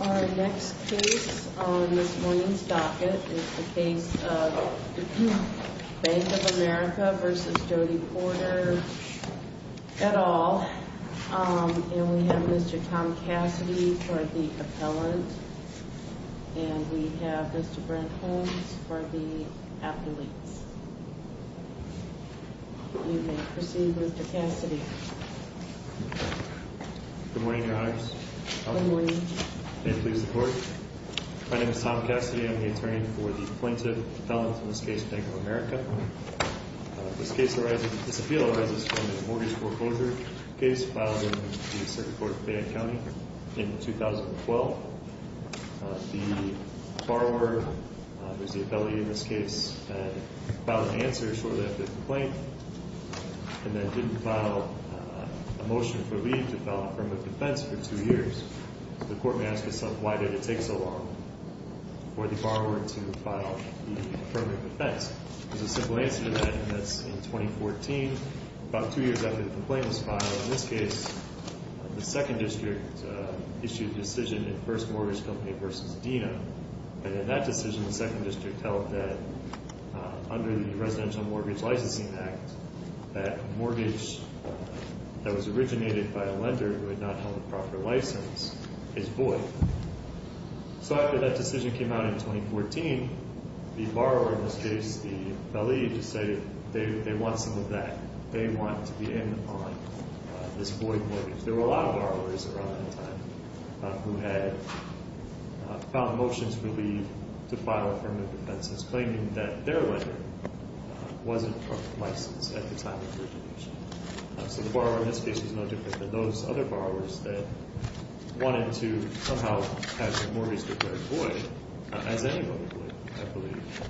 Our next case on this morning's docket is the case of Bank of America v. Jody Porter, et al. And we have Mr. Tom Cassidy for the appellant. And we have Mr. Brent Holmes for the appellate. You may proceed, Mr. Cassidy. Good morning, Your Honors. Good morning. May it please the Court. My name is Tom Cassidy. I'm the attorney for the plaintiff, the appellant in this case, Bank of America. This case arises, this appeal arises from a mortgage foreclosure case filed in the Circuit Court of Fayette County in 2012. The borrower, who is the appellee in this case, filed an answer shortly after the complaint, and then didn't file a motion for leave to file an affirmative defense for two years. The Court may ask itself, why did it take so long for the borrower to file the affirmative defense? There's a simple answer to that, and that's in 2014, about two years after the complaint was filed. In this case, the Second District issued a decision in First Mortgage Company v. Dena. And in that decision, the Second District held that under the Residential Mortgage Licensing Act, that a mortgage that was originated by a lender who had not held a proper license is void. So after that decision came out in 2014, the borrower in this case, the appellee, decided they want some of that. They want to be in on this void mortgage. There were a lot of borrowers around that time who had filed motions for leave to file affirmative defenses, claiming that their lender wasn't a proper license at the time of origination. So the borrower in this case is no different than those other borrowers that wanted to somehow have their mortgage declared void, as anybody would, I believe.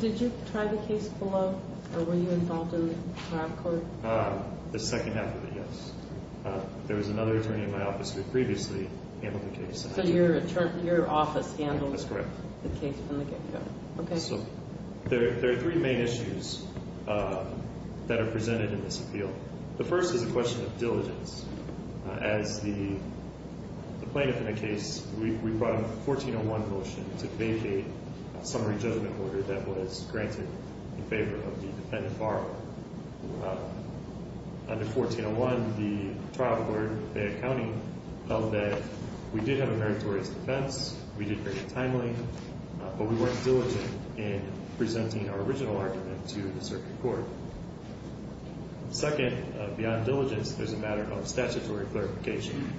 Did you try the case below, or were you involved in the trial court? The second half of it, yes. There was another attorney in my office who previously handled the case. So your office handled the case from the get-go. That's correct. There are three main issues that are presented in this appeal. The first is a question of diligence. As the plaintiff in the case, we brought a 1401 motion to vacate a summary judgment order that was granted in favor of the dependent borrower. Under 1401, the trial court in Fayette County held that we did have a meritorious defense. We did very timely, but we weren't diligent in presenting our original argument to the circuit court. Second, beyond diligence, there's a matter of statutory clarification.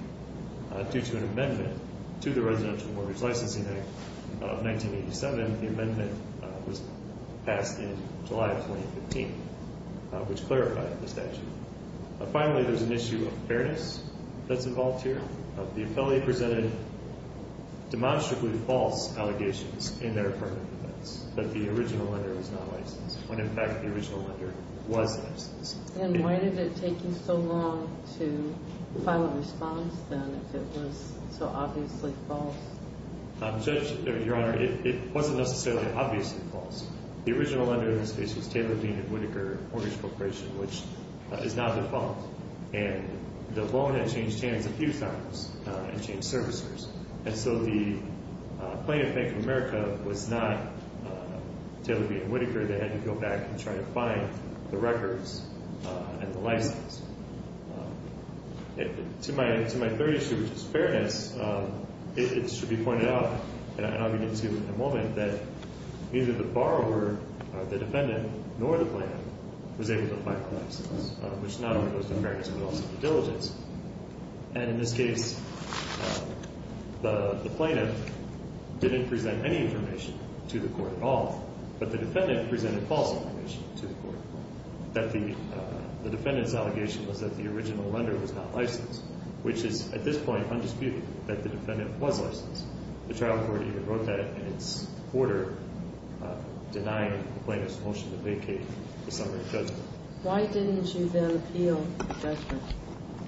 Due to an amendment to the Residential Mortgage Licensing Act of 1987, the amendment was passed in July of 2015, which clarified the statute. Finally, there's an issue of fairness that's involved here. The appellee presented demonstrably false allegations in their affirmative defense that the original lender was not licensed, when, in fact, the original lender was licensed. And why did it take you so long to file a response, then, if it was so obviously false? Judge, Your Honor, it wasn't necessarily obviously false. The original lender in this case was Taylor, Bean, and Whitaker Mortgage Corporation, which is not default. And the loan had changed hands a few times and changed servicers. And so the plaintiff, Bank of America, was not Taylor, Bean, and Whitaker. They had to go back and try to find the records and the license. To my third issue, which is fairness, it should be pointed out, and I'll get into it in a moment, that neither the borrower or the defendant nor the plaintiff was able to find the license, which not only goes to fairness, but also to diligence. And in this case, the plaintiff didn't present any information to the court at all, but the defendant presented false information to the court that the defendant's allegation was that the original lender was not licensed, which is at this point undisputed that the defendant was licensed. The trial court even wrote that in its order, denying the plaintiff's motion to vacate the summary judgment. Why didn't you then appeal the judgment?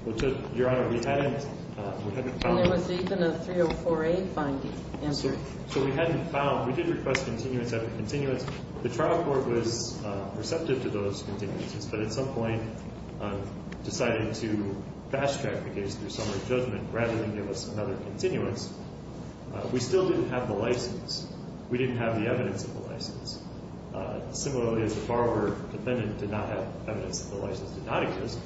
Well, Your Honor, we hadn't found it. And there was even a 304A finding answered. So we hadn't found it. We did request continuance after continuance. The trial court was receptive to those continuances, but at some point decided to fast-track the case through summary judgment rather than give us another continuance. We still didn't have the license. We didn't have the evidence of the license. Similarly, as the borrower or defendant did not have evidence that the license did not exist,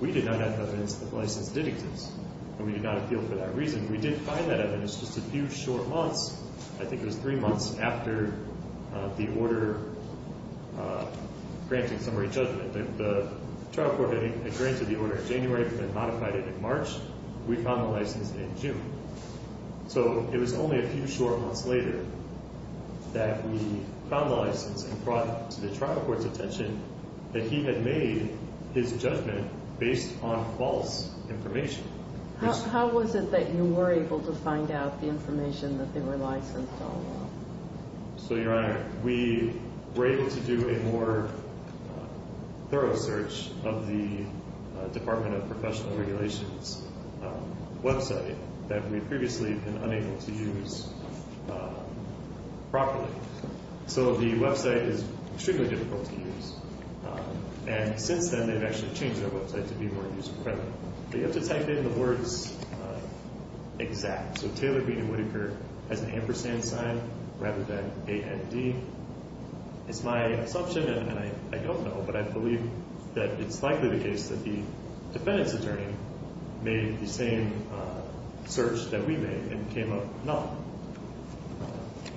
we did not have evidence that the license did exist, and we did not appeal for that reason. We did find that evidence just a few short months. I think it was three months after the order granting summary judgment. The trial court had granted the order in January but then modified it in March. We found the license in June. So it was only a few short months later that we found the license and brought it to the trial court's attention that he had made his judgment based on false information. How was it that you were able to find out the information that they were licensed on? So, Your Honor, we were able to do a more thorough search of the Department of Professional Regulations website that we had previously been unable to use properly. So the website is extremely difficult to use. And since then, they've actually changed their website to be more user-friendly. You have to type in the words exact. So Taylor, Beene, and Whitaker has an ampersand sign rather than A-N-D. It's my assumption, and I don't know, but I believe that it's likely the case that the defendant's attorney made the same search that we made and came up with nothing,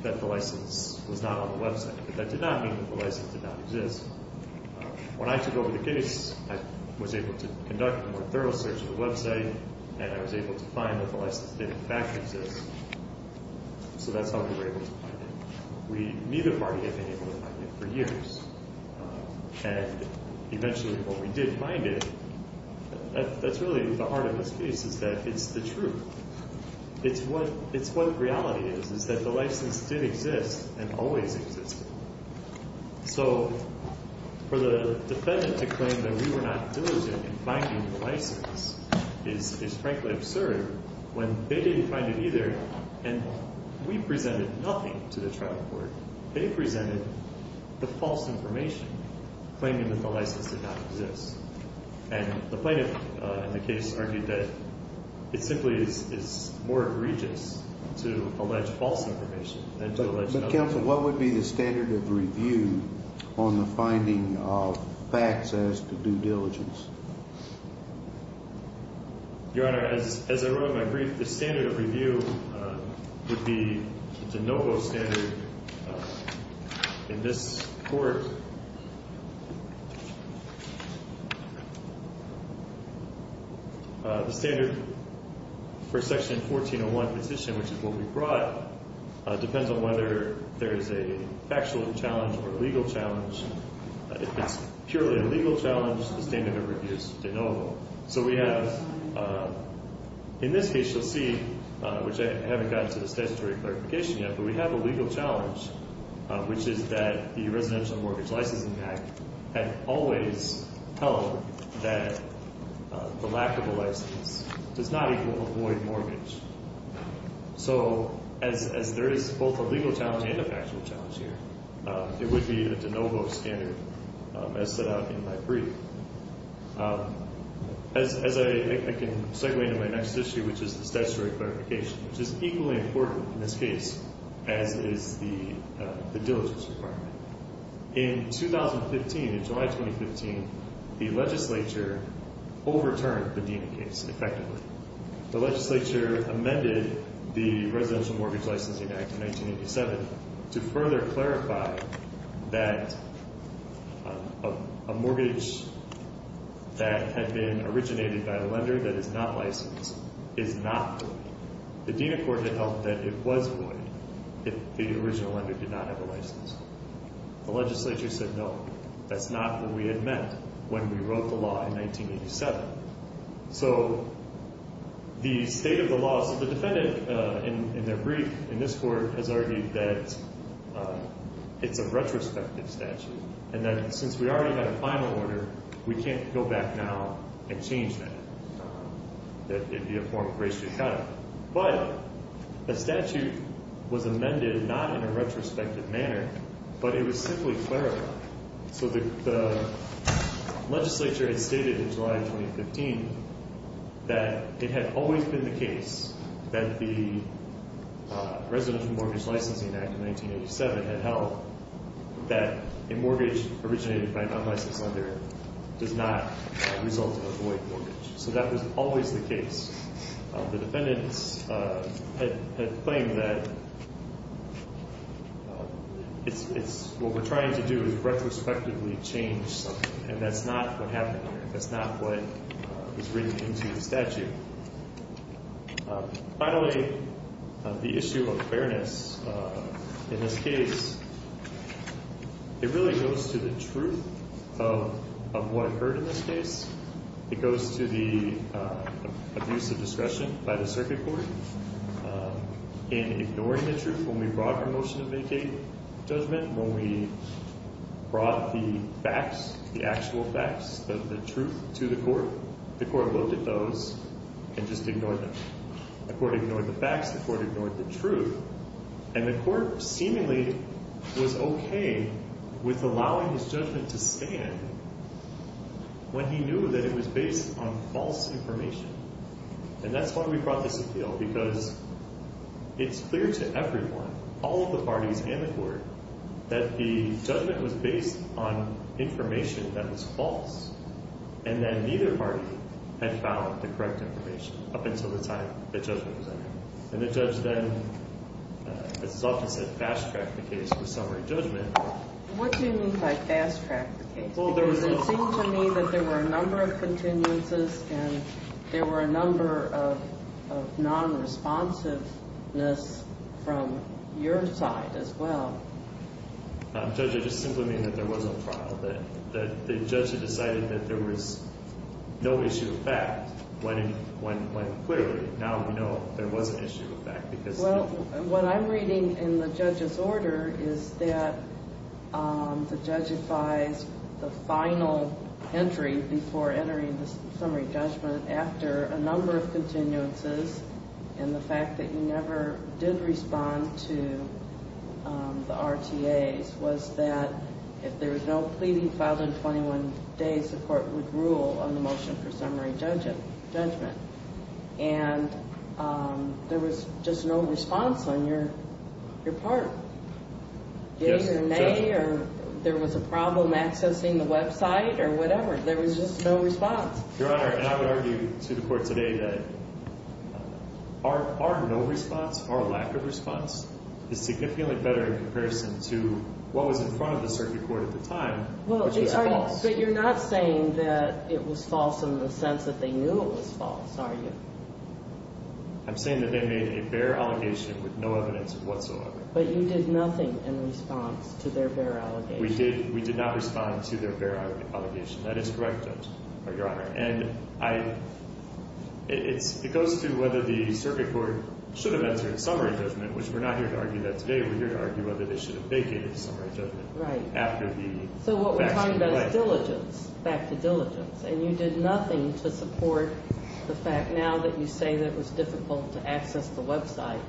that the license was not on the website. But that did not mean that the license did not exist. When I took over the case, I was able to conduct a more thorough search of the website, and I was able to find that the license did, in fact, exist. So that's how we were able to find it. Neither party had been able to find it for years. And eventually, when we did find it, that's really the heart of the case is that it's the truth. It's what reality is, is that the license did exist and always existed. So for the defendant to claim that we were not diligent in finding the license is frankly absurd when they didn't find it either, and we presented nothing to the trial court. They presented the false information, claiming that the license did not exist. And the plaintiff in the case argued that it simply is more egregious to allege false information than to allege nothing. But, counsel, what would be the standard of review on the finding of facts as to due diligence? Your Honor, as I wrote in my brief, the standard of review would be the de novo standard in this court. The standard for Section 1401 petition, which is what we brought, depends on whether there is a factual challenge or legal challenge. If it's purely a legal challenge, the standard of review is de novo. So we have, in this case you'll see, which I haven't gotten to the statutory clarification yet, but we have a legal challenge, which is that the Residential Mortgage Licensing Act had always held that the lack of a license does not equal avoid mortgage. So, as there is both a legal challenge and a factual challenge here, it would be a de novo standard, as set out in my brief. As I can segue into my next issue, which is the statutory clarification, which is equally important in this case, as is the diligence requirement. In 2015, in July 2015, the legislature overturned the Deena case, effectively. The legislature amended the Residential Mortgage Licensing Act in 1987 to further clarify that a mortgage that had been originated by a lender that is not licensed is not void. The Deena court had held that it was void if the original lender did not have a license. The legislature said, no, that's not what we had meant when we wrote the law in 1987. So, the state of the law, so the defendant, in their brief, in this court, has argued that it's a retrospective statute, and that since we already had a final order, we can't go back now and change that. That it be a form of grace to cut it. But, the statute was amended not in a retrospective manner, but it was simply clarified. So, the legislature had stated in July 2015 that it had always been the case that the Residential Mortgage Licensing Act of 1987 had held that a mortgage originated by a non-licensed lender does not result in a void mortgage. So, that was always the case. The defendants had claimed that what we're trying to do is retrospectively change something, and that's not what happened. That's not what was written into the statute. Finally, the issue of fairness in this case, it really goes to the truth of what occurred in this case. It goes to the abuse of discretion by the circuit court in ignoring the truth when we brought promotion of Medicaid judgment, when we brought the facts, the actual facts, the truth to the court. The court looked at those and just ignored them. The court ignored the facts. The court ignored the truth. And the court seemingly was okay with allowing his judgment to stand when he knew that it was based on false information. And that's why we brought this appeal, because it's clear to everyone, all of the parties and the court, that the judgment was based on information that was false, and that neither party had found the correct information up until the time the judgment was entered. And the judge then, as is often said, fast-tracked the case for summary judgment. What do you mean by fast-tracked the case? Because it seemed to me that there were a number of continuances, and there were a number of non-responsiveness from your side as well. Judge, I just simply mean that there was no trial, that the judge had decided that there was no issue of fact when it went clearly. Now we know there was an issue of fact. Well, what I'm reading in the judge's order is that the judge advised the final entry before entering the summary judgment, after a number of continuances and the fact that you never did respond to the RTAs, was that if there was no pleading filed in 21 days, the court would rule on the motion for summary judgment. And there was just no response on your part. Yes. Either nay, or there was a problem accessing the website, or whatever. There was just no response. Your Honor, and I would argue to the court today that our no response, our lack of response, is significantly better in comparison to what was in front of the circuit court at the time, which was false. But you're not saying that it was false in the sense that they knew it was false, are you? I'm saying that they made a bare allegation with no evidence whatsoever. But you did nothing in response to their bare allegation. We did not respond to their bare allegation. That is correct, Judge, or Your Honor. And it goes to whether the circuit court should have entered summary judgment, which we're not here to argue that today. We're here to argue whether they should have vacated summary judgment after the facts came to light. So what we're talking about is diligence, back to diligence. And you did nothing to support the fact now that you say that it was difficult to access the website.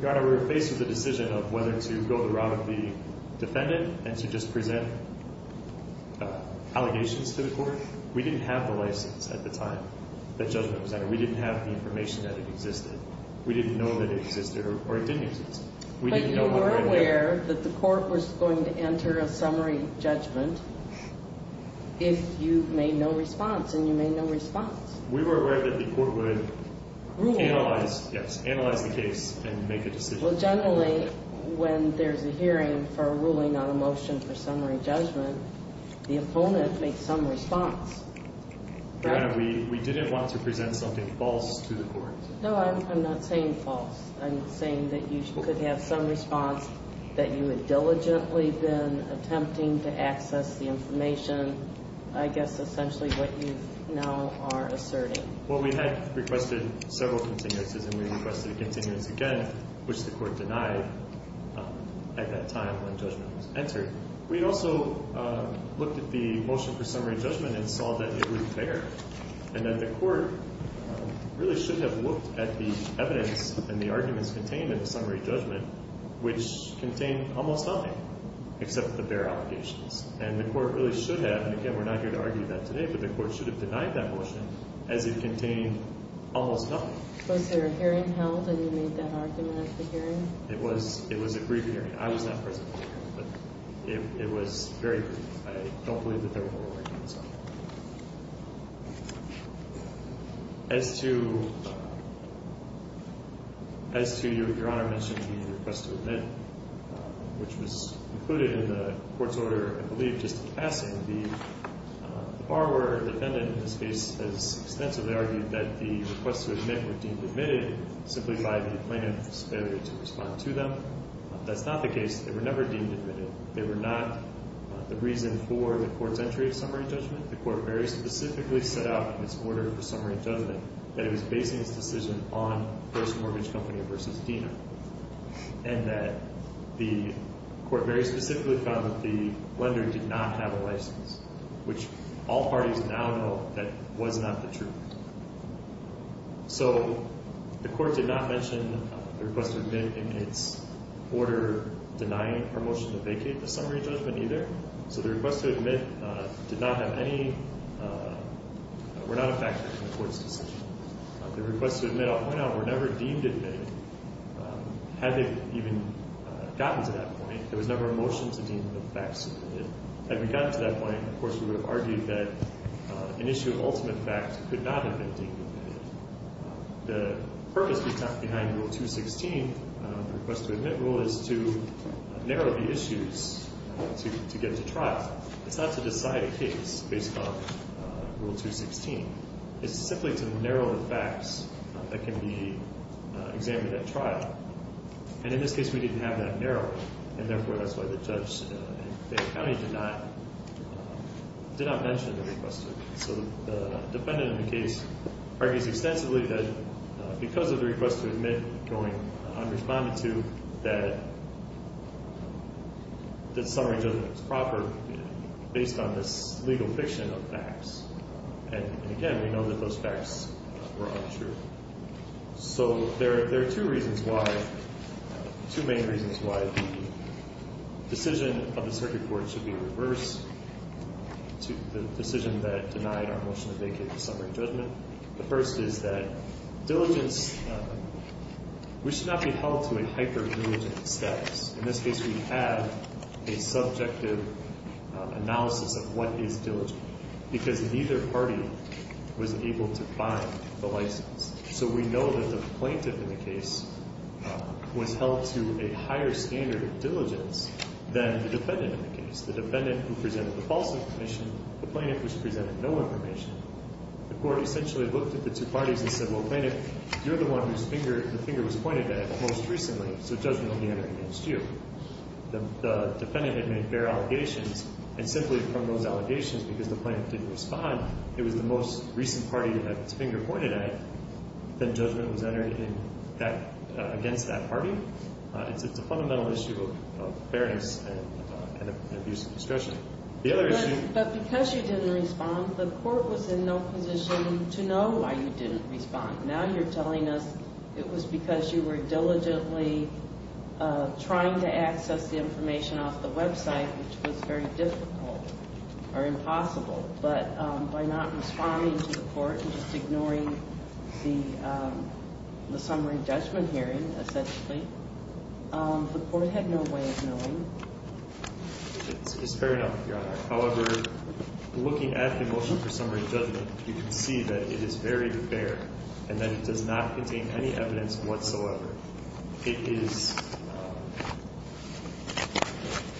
Your Honor, we were faced with the decision of whether to go the route of the defendant and to just present allegations to the court. We didn't have the license at the time that judgment was entered. We didn't have the information that it existed. We didn't know that it existed or it didn't exist. But you were aware that the court was going to enter a summary judgment if you made no response, and you made no response. We were aware that the court would analyze the case and make a decision. Well, generally, when there's a hearing for a ruling on a motion for summary judgment, the opponent makes some response. Your Honor, we didn't want to present something false to the court. No, I'm not saying false. I'm saying that you could have some response that you had diligently been attempting to access the information. I guess essentially what you now are asserting. Well, we had requested several continuances, and we requested a continuance again, which the court denied at that time when judgment was entered. We also looked at the motion for summary judgment and saw that it was fair and that the court really should have looked at the evidence and the arguments contained in the summary judgment, which contained almost nothing except the bare allegations. And the court really should have, and again, we're not here to argue that today, but the court should have denied that motion as it contained almost nothing. Was there a hearing held and you made that argument at the hearing? It was a brief hearing. I was not present at the hearing, but it was very brief. I don't believe that there were no arguments at all. As to your Honor mentioning the request to admit, which was included in the court's order, I believe, just in passing, the borrower defendant in this case has extensively argued that the request to admit were deemed admitted simply by the plaintiff's failure to respond to them. That's not the case. They were never deemed admitted. They were not the reason for the court's entry of summary judgment. The court very specifically set out in its order for summary judgment that it was basing its decision on First Mortgage Company versus Dena and that the court very specifically found that the lender did not have a license, which all parties now know that was not the truth. So the court did not mention the request to admit in its order denying our motion to vacate the summary judgment either. So the request to admit did not have any – were not a factor in the court's decision. The request to admit, I'll point out, were never deemed admitted. Had they even gotten to that point, there was never a motion to deem them facts. Had we gotten to that point, of course, we would have argued that an issue of ultimate fact could not have been deemed admitted. The purpose behind Rule 216, the request to admit rule, is to narrow the issues to get to trial. It's not to decide a case based on Rule 216. It's simply to narrow the facts that can be examined at trial. And in this case, we didn't have that narrowed, and therefore that's why the judge in Fayette County did not mention the request to admit. So the defendant in the case argues extensively that because of the request to admit going unresponded to, that the summary judgment was proper based on this legal fiction of facts. And again, we know that those facts were untrue. So there are two reasons why, two main reasons why the decision of the circuit court should be reversed, the decision that denied our motion to vacate the summary judgment. The first is that diligence, we should not be held to a hyper-diligent status. In this case, we have a subjective analysis of what is diligent because neither party was able to find the license. So we know that the plaintiff in the case was held to a higher standard of diligence than the defendant in the case. The defendant who presented the false information, the plaintiff who presented no information. The court essentially looked at the two parties and said, well, plaintiff, you're the one whose finger was pointed at most recently, so judgment will be entered against you. The defendant had made fair allegations, and simply from those allegations, because the plaintiff didn't respond, it was the most recent party that its finger pointed at that judgment was entered against that party. It's a fundamental issue of fairness and abuse of discretion. But because you didn't respond, the court was in no position to know why you didn't respond. Now you're telling us it was because you were diligently trying to access the information off the Web site, which was very difficult or impossible. But by not responding to the court and just ignoring the summary judgment hearing, essentially, the court had no way of knowing. It's fair enough, Your Honor. However, looking at the motion for summary judgment, you can see that it is very fair and that it does not contain any evidence whatsoever. It is...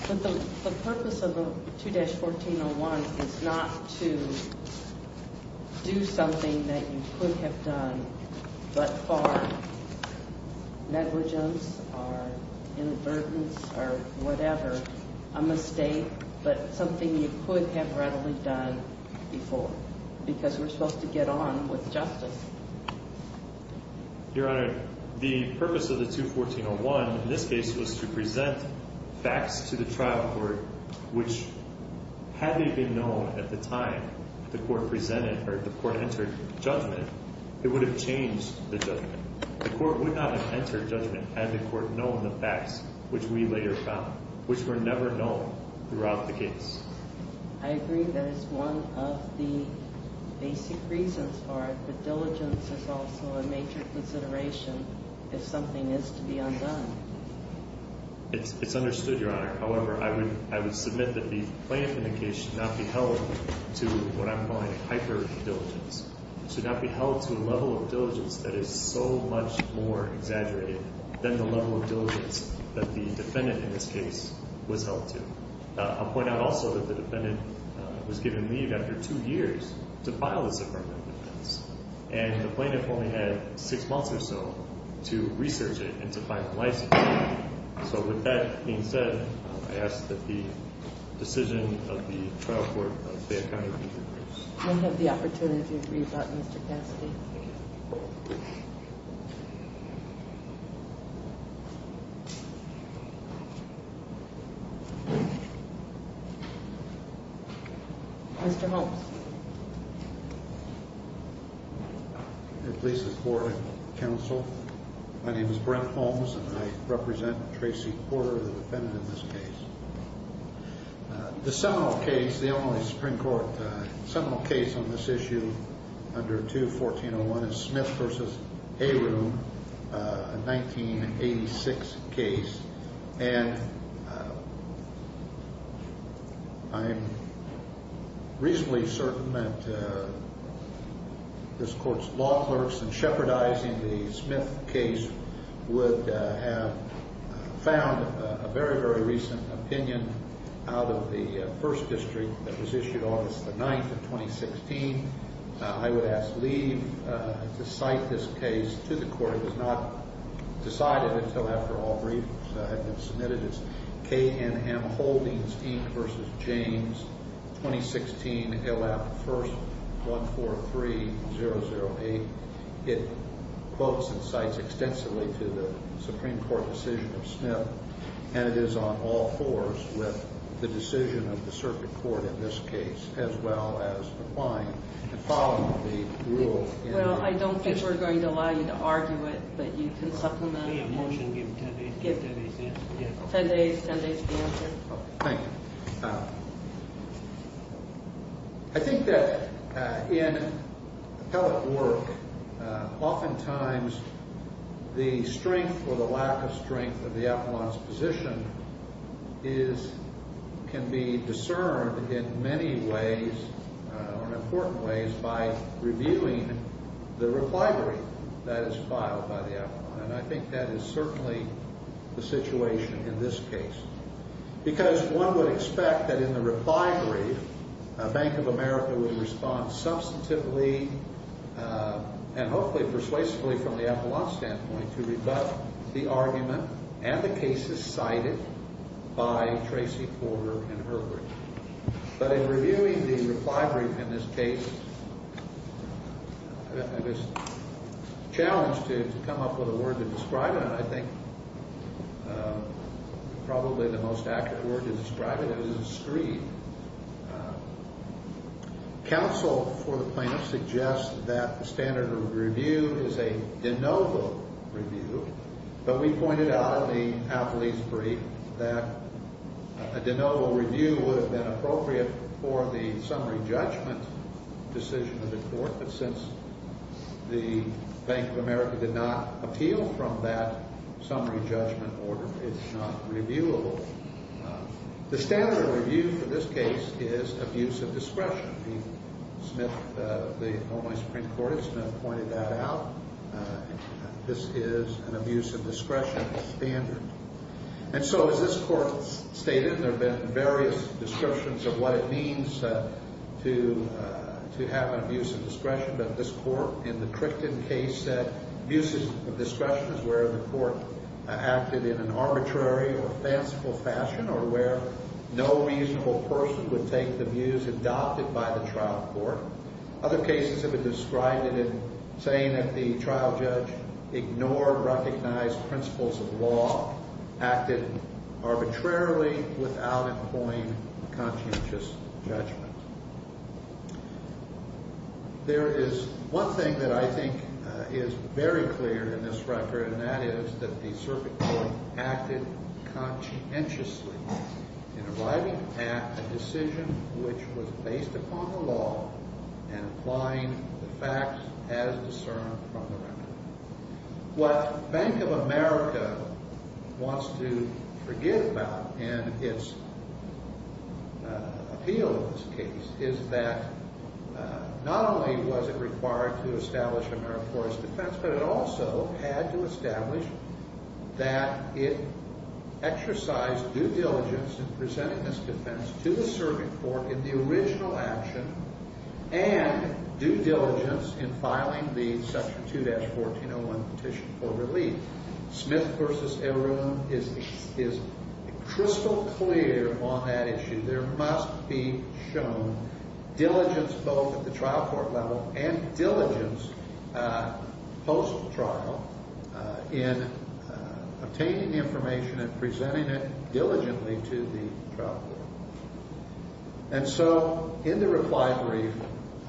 But the purpose of the 2-1401 is not to do something that you could have done, but for negligence or inadvertence or whatever, a mistake, but something you could have readily done before, because we're supposed to get on with justice. Your Honor, the purpose of the 2-1401 in this case was to present facts to the trial court, which had they been known at the time the court presented or the court entered judgment, it would have changed the judgment. The court would not have entered judgment had the court known the facts, which we later found, which were never known throughout the case. I agree that is one of the basic reasons for it, but diligence is also a major consideration if something is to be undone. It's understood, Your Honor. However, I would submit that the plaintiff in the case should not be held to what I'm calling hyper-diligence, should not be held to a level of diligence that is so much more exaggerated than the level of diligence that the defendant in this case was held to. I'll point out also that the defendant was given leave after two years to file this affirmative defense, and the plaintiff only had six months or so to research it and to find the license. So with that being said, I ask that the decision of the trial court of Fayette County be reversed. We'll have the opportunity to read about Mr. Cassidy. Thank you. Mr. Holmes. It pleases the board and the counsel. My name is Brent Holmes, and I represent Tracy Porter, the defendant in this case. The seminal case, the only Supreme Court seminal case on this issue under 2-1401 is Smith v. Arum, a 1986 case. And I'm reasonably certain that this court's law clerks in shepherdizing the Smith case would have found a very, very recent opinion out of the first district that was issued August the 9th of 2016. I would ask leave to cite this case to the court. It was not decided until after all briefings had been submitted. It's K.N.M. Holdings, Inc. v. James, 2016, L.F. 1st, 143008. It quotes and cites extensively to the Supreme Court decision of Smith, and it is on all fours with the decision of the circuit court in this case, as well as McLean, and following the rule. Well, I don't think we're going to allow you to argue it, but you can supplement it. Motion, give 10 days. Give 10 days. 10 days. 10 days. Thank you. I think that in appellate work, oftentimes the strength or the lack of strength of the appellant's position can be discerned in many ways, in important ways, by reviewing the reply that is filed by the appellant. And I think that is certainly the situation in this case. Because one would expect that in the reply brief, Bank of America would respond substantively and hopefully persuasively from the appellant's standpoint to rebut the argument and the cases cited by Tracy Porter and Herbert. But in reviewing the reply brief in this case, it was a challenge to come up with a word to describe it, and I think probably the most accurate word to describe it is a screed. Counsel for the plaintiff suggests that the standard of review is a de novo review, but we pointed out in the appellate's brief that a de novo review would have been appropriate for the summary judgment decision of the court. But since the Bank of America did not appeal from that summary judgment order, it's not reviewable. The standard of review for this case is abuse of discretion. The Ohio Supreme Court has pointed that out. This is an abuse of discretion standard. And so as this court stated, there have been various descriptions of what it means to have an abuse of discretion, but this court in the Crickton case said abuse of discretion is where the court acted in an arbitrary or fanciful fashion or where no reasonable person would take the views adopted by the trial court. Other cases have been described in saying that the trial judge ignored recognized principles of law, acted arbitrarily without employing conscientious judgment. There is one thing that I think is very clear in this record, and that is that the circuit court acted conscientiously in arriving at a decision which was based upon the law and applying the facts as discerned from the record. What Bank of America wants to forget about in its appeal of this case is that not only was it required to establish AmeriCorps' defense, but it also had to establish that it exercised due diligence in presenting this defense to the circuit court in the original action and due diligence in filing the Section 2-1401 petition for relief. Smith v. Arun is crystal clear on that issue. There must be shown diligence both at the trial court level and diligence post-trial in obtaining information and presenting it diligently to the trial court. And so in the reply brief,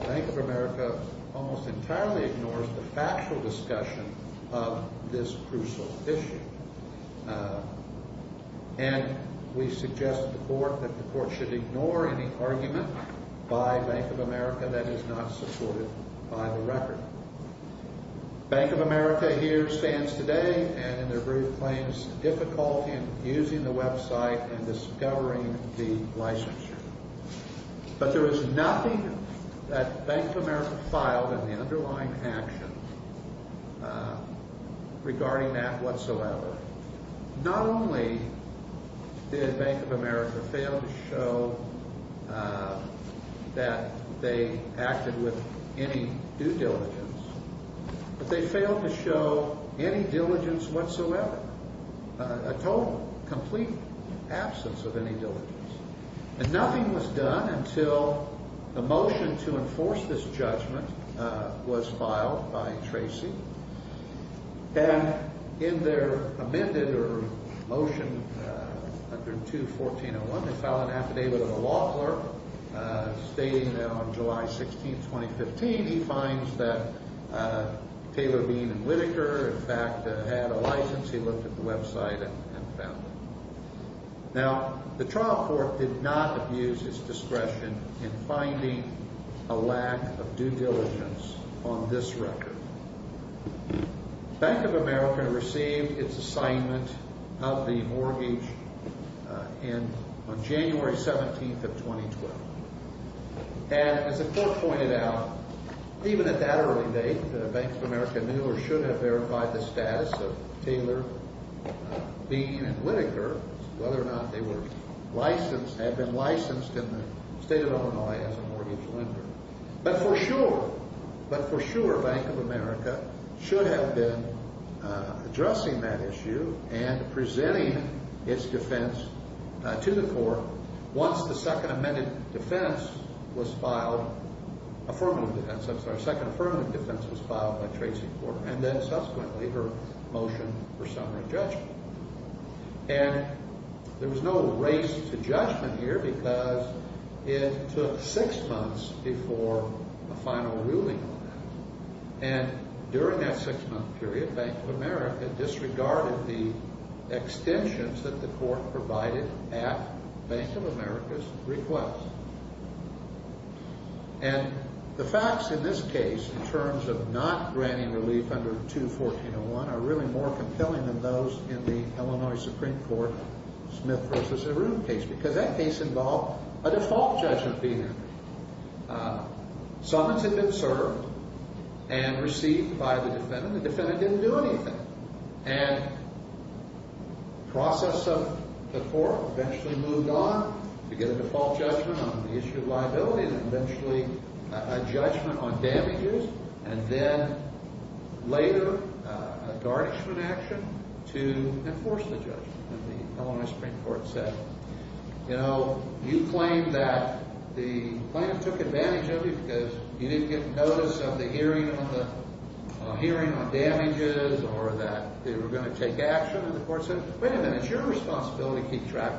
Bank of America almost entirely ignores the factual discussion of this crucial issue. And we suggest to the court that the court should ignore any argument by Bank of America that is not supported by the record. Bank of America here stands today and in their brief claims difficult in using the website and discovering the licensure. But there is nothing that Bank of America filed in the underlying action regarding that whatsoever. Not only did Bank of America fail to show that they acted with any due diligence, but they failed to show any diligence whatsoever, a total, complete absence of any diligence. And nothing was done until the motion to enforce this judgment was filed by Tracy. And in their amended motion, 102-1401, they filed an affidavit of a law clerk stating that on July 16, 2015, he finds that Taylor, Bean, and Whitaker in fact had a license. He looked at the website and found it. Now, the trial court did not abuse his discretion in finding a lack of due diligence on this record. Bank of America received its assignment of the mortgage on January 17, 2012. And as the court pointed out, even at that early date, Bank of America knew or should have verified the status of Taylor, Bean, and Whitaker, whether or not they were licensed, had been licensed in the state of Illinois as a mortgage lender. But for sure, but for sure, Bank of America should have been addressing that issue and presenting its defense to the court once the second amended defense was filed, affirmative defense, I'm sorry, second affirmative defense was filed by Tracy Porter and then subsequently her motion for summary judgment. And there was no race to judgment here because it took six months before a final ruling on that. And during that six-month period, Bank of America disregarded the extensions that the court provided at Bank of America's request. And the facts in this case in terms of not granting relief under 2-1401 are really more compelling than those in the Illinois Supreme Court Smith v. Aroon case because that case involved a default judgment being entered. Summons had been served and received by the defendant. The defendant didn't do anything. And the process of the court eventually moved on to get a default judgment on the issue of liability and eventually a judgment on damages and then later a garnishment action to enforce the judgment, as the Illinois Supreme Court said. You know, you claim that the plaintiff took advantage of you because you didn't get notice of the hearing on damages or that they were going to take action. And the court said, wait a minute, it's your responsibility to keep track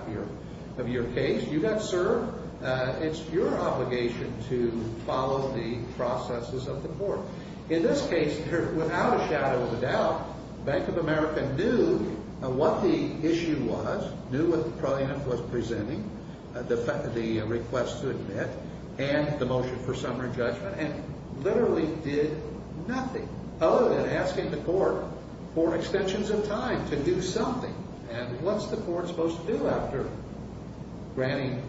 of your case. You got served. It's your obligation to follow the processes of the court. In this case, without a shadow of a doubt, Bank of America knew what the issue was, knew what the plaintiff was presenting, the request to admit, and the motion for summary judgment, and literally did nothing other than asking the court for extensions of time to do something. And what's the court supposed to do after granting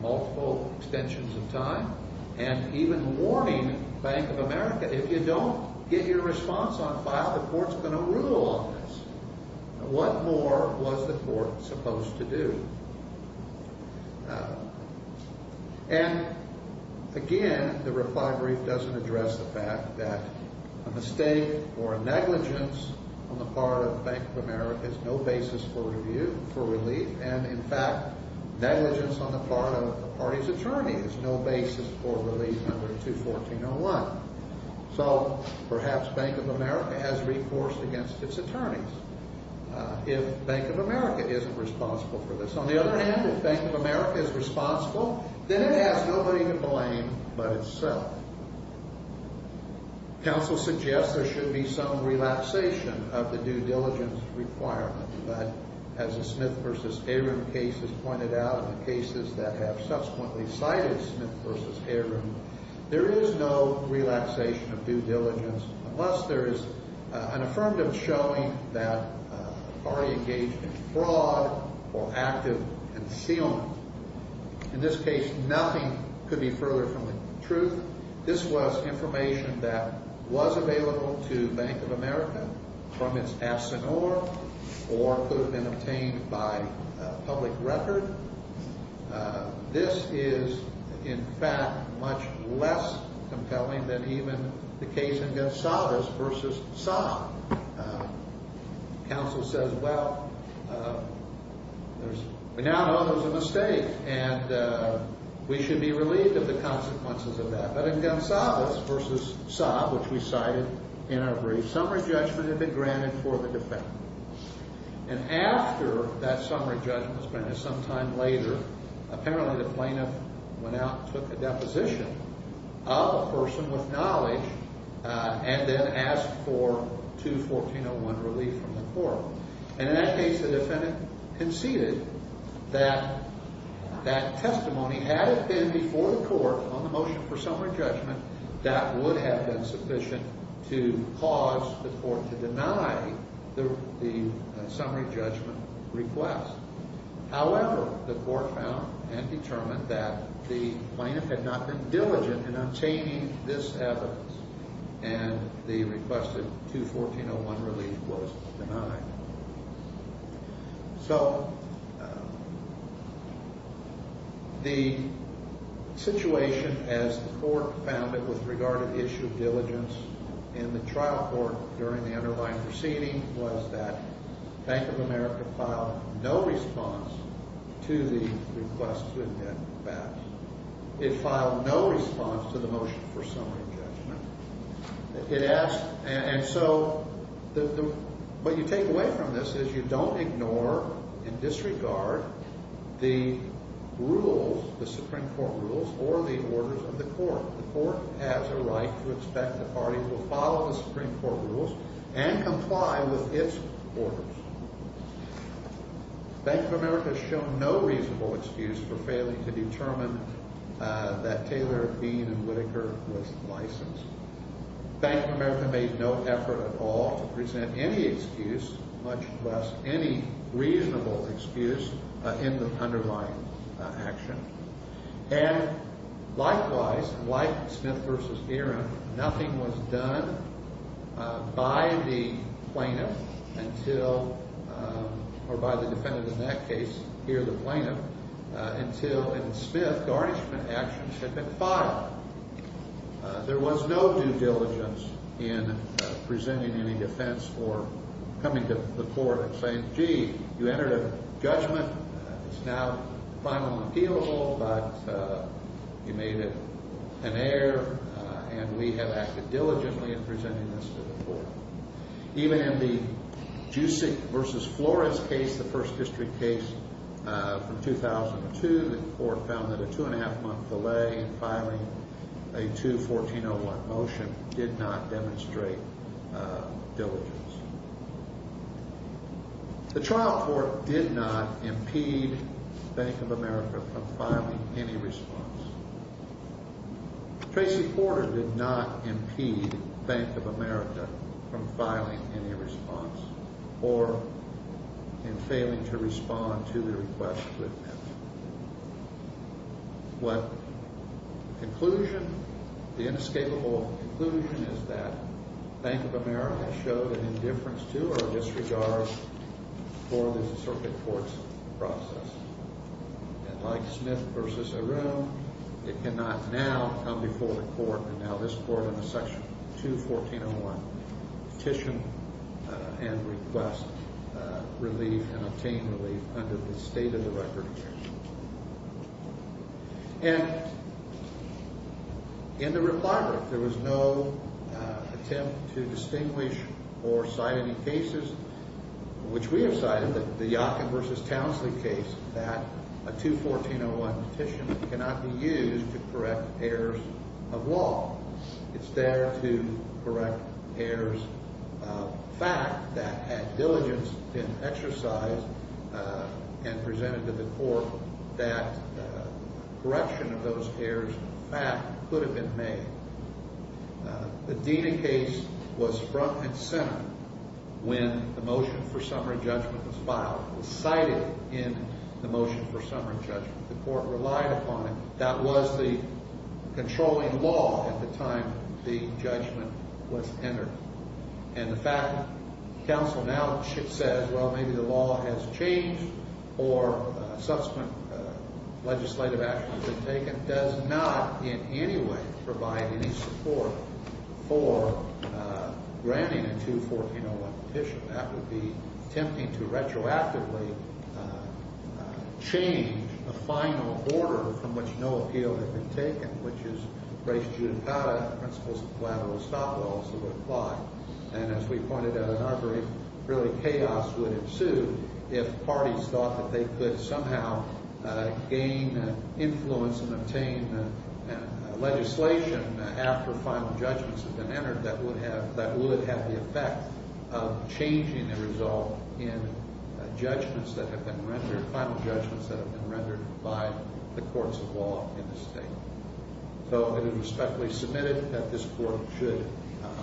multiple extensions of time and even warning Bank of America, if you don't get your response on file, the court's going to rule on this. What more was the court supposed to do? And, again, the reply brief doesn't address the fact that a mistake or a negligence on the part of Bank of America is no basis for review, for relief. And, in fact, negligence on the part of the party's attorney is no basis for relief under 214.01. So perhaps Bank of America has reforced against its attorneys. If Bank of America isn't responsible for this. On the other hand, if Bank of America is responsible, then it has nobody to blame but itself. Counsel suggests there should be some relapsation of the due diligence requirement, but as the Smith v. Heron case has pointed out and the cases that have subsequently cited Smith v. Heron, there is no relapsation of due diligence unless there is an affirmative showing that a party engaged in fraud or active concealment. In this case, nothing could be further from the truth. This was information that was available to Bank of America from its absent or could have been obtained by public record. This is, in fact, much less compelling than even the case in Gonsalves v. Saab. Counsel says, well, we now know it was a mistake, and we should be relieved of the consequences of that. But in Gonsalves v. Saab, which we cited in our brief, summary judgment had been granted for the defendant. And after that summary judgment was granted, sometime later, apparently the plaintiff went out and took a deposition of a person with knowledge and then asked for 2-1401 relief from the court. And in that case, the defendant conceded that that testimony, had it been before the court on the motion for summary judgment, that would have been sufficient to cause the court to deny the summary judgment request. However, the court found and determined that the plaintiff had not been diligent in obtaining this evidence, and the requested 2-1401 relief was denied. So the situation as the court found it with regard to the issue of diligence in the trial court during the underlying proceeding was that Bank of America filed no response to the request to invent the facts. It filed no response to the motion for summary judgment. And so what you take away from this is you don't ignore and disregard the rules, the Supreme Court rules, or the orders of the court. The court has a right to expect the parties will follow the Supreme Court rules and comply with its orders. Bank of America has shown no reasonable excuse for failing to determine that Taylor, Bean, and Whitaker was licensed. Bank of America made no effort at all to present any excuse, much less any reasonable excuse, in the underlying action. And likewise, like Smith v. Aaron, nothing was done by the plaintiff until—or by the defendant in that case, here the plaintiff— until in Smith, garnishment actions had been filed. There was no due diligence in presenting any defense or coming to the court and saying, gee, you entered a judgment, it's now finally appealable, but you made it an error, and we have acted diligently in presenting this to the court. Even in the Jusic v. Flores case, the First District case from 2002, the court found that a two-and-a-half-month delay in filing a 2-1401 motion did not demonstrate diligence. The trial court did not impede Bank of America from filing any response. Tracy Porter did not impede Bank of America from filing any response or in failing to respond to the request of Whitman. What conclusion? The inescapable conclusion is that Bank of America showed an indifference to or disregard for the circuit court's process. And like Smith v. Aaron, it cannot now come before the court, and now this Court under Section 2-1401, petition and request relief and obtain relief under the state-of-the-record case. And in the reply brief, there was no attempt to distinguish or cite any cases, which we have cited, the Yockin v. Townsley case, that a 2-1401 petition cannot be used to correct errors of law. It's there to correct errors of fact that had diligence been exercised and presented to the court that correction of those errors of fact could have been made. The Dena case was front and center when the motion for summary judgment was filed. It was cited in the motion for summary judgment. The court relied upon it. That was the controlling law at the time the judgment was entered. And the fact that counsel now says, well, maybe the law has changed or subsequent legislative action has been taken, does not in any way provide any support for granting a 2-1401 petition. That would be attempting to retroactively change the final order from which no appeal had been taken, which is the pre-judicata principles of collateral stop laws that would apply. And as we pointed out in our brief, really chaos would ensue if parties thought that they could somehow gain influence and obtain legislation after final judgments had been entered that would have the effect of changing the result in judgments that have been rendered, final judgments that have been rendered by the courts of law in the state. So it is respectfully submitted that this court should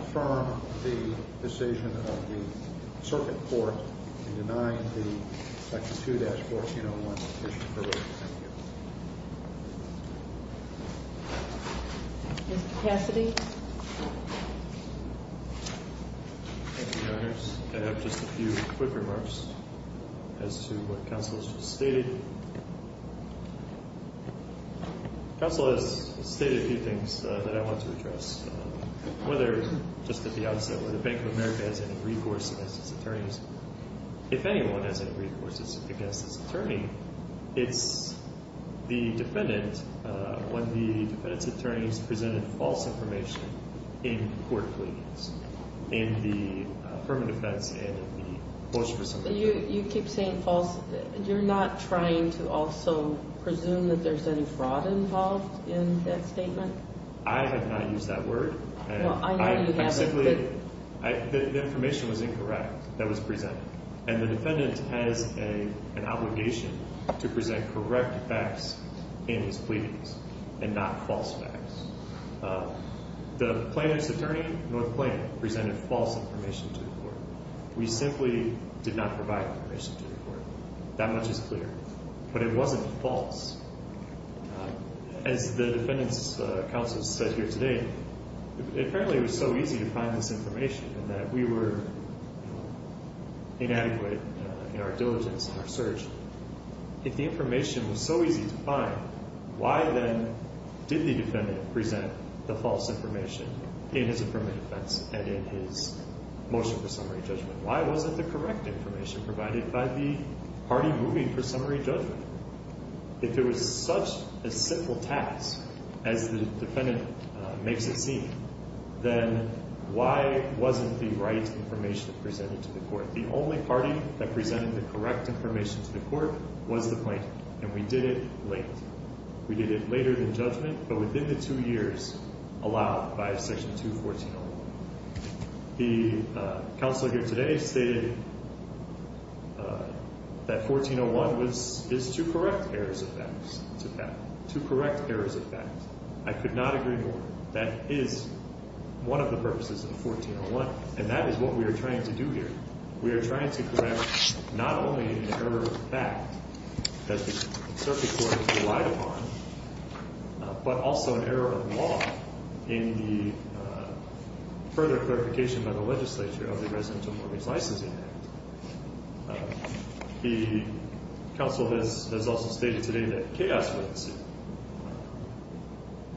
affirm the decision of the circuit court in denying the section 2-1401 petition. Thank you. Mr. Cassidy. Thank you, Your Honors. I have just a few quick remarks as to what counsel has just stated. Counsel has stated a few things that I want to address, whether just at the outset, whether Bank of America has any recourse against its attorneys. If anyone has any recourse against its attorney, it's the defendant when the defendant's attorneys presented false information in court pleadings, in the firm of defense and in the post-presentation. You keep saying false. You're not trying to also presume that there's any fraud involved in that statement? I have not used that word. Well, I know you haven't. The information was incorrect that was presented. And the defendant has an obligation to present correct facts in his pleadings and not false facts. The plaintiff's attorney, North Plaintiff, presented false information to the court. We simply did not provide information to the court. That much is clear. But it wasn't false. As the defendant's counsel said here today, apparently it was so easy to find this information and that we were inadequate in our diligence and our search. If the information was so easy to find, why then did the defendant present the false information in his affirmative defense and in his motion for summary judgment? Why wasn't the correct information provided by the party moving for summary judgment? If it was such a simple task, as the defendant makes it seem, then why wasn't the right information presented to the court? The only party that presented the correct information to the court was the plaintiff, and we did it late. We did it later than judgment, but within the two years allowed by Section 214. The counsel here today stated that 1401 is to correct errors of fact. To correct errors of fact. I could not agree more. That is one of the purposes of 1401. And that is what we are trying to do here. We are trying to correct not only an error of fact that the circuit court relied upon, but also an error of law in the further clarification by the legislature of the Residential Mortgage Licensing Act. The counsel has also stated today that chaos would ensue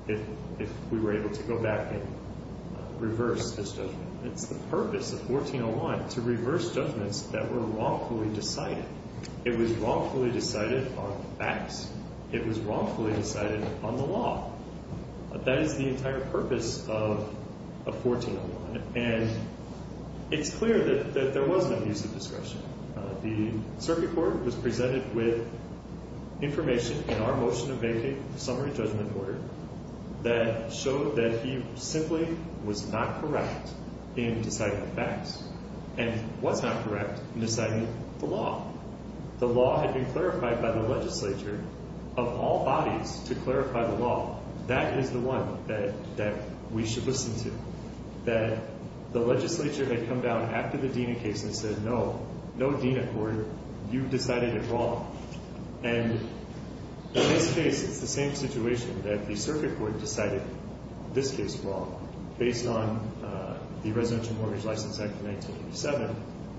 if we were able to go back and reverse this judgment. It's the purpose of 1401 to reverse judgments that were wrongfully decided. It was wrongfully decided on facts. It was wrongfully decided on the law. That is the entire purpose of 1401. And it's clear that there was no use of discretion. The circuit court was presented with information in our Motion of Vacant Summary Judgment Order that showed that he simply was not correct in deciding facts and was not correct in deciding the law. The law had been clarified by the legislature of all bodies to clarify the law. That is the one that we should listen to. That the legislature had come down after the Dena case and said, no, no Dena court. You decided it wrong. And in this case, it's the same situation that the circuit court decided this case wrong. Based on the Residential Mortgage License Act of 1987,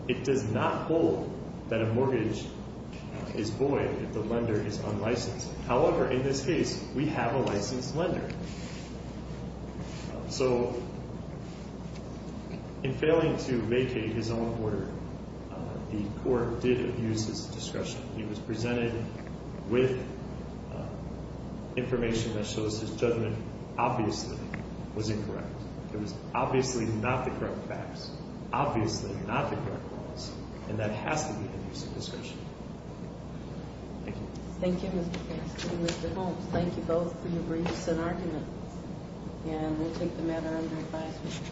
it does not hold that a mortgage is void if the lender is unlicensed. However, in this case, we have a licensed lender. So in failing to vacate his own order, the court did abuse his discretion. He was presented with information that shows his judgment obviously was incorrect. It was obviously not the correct facts. Obviously not the correct laws. And that has to be an abuse of discretion. Thank you. Thank you, Mr. Faxon and Mr. Holmes. Thank you both for your briefs and arguments. And we take the matter under advisement.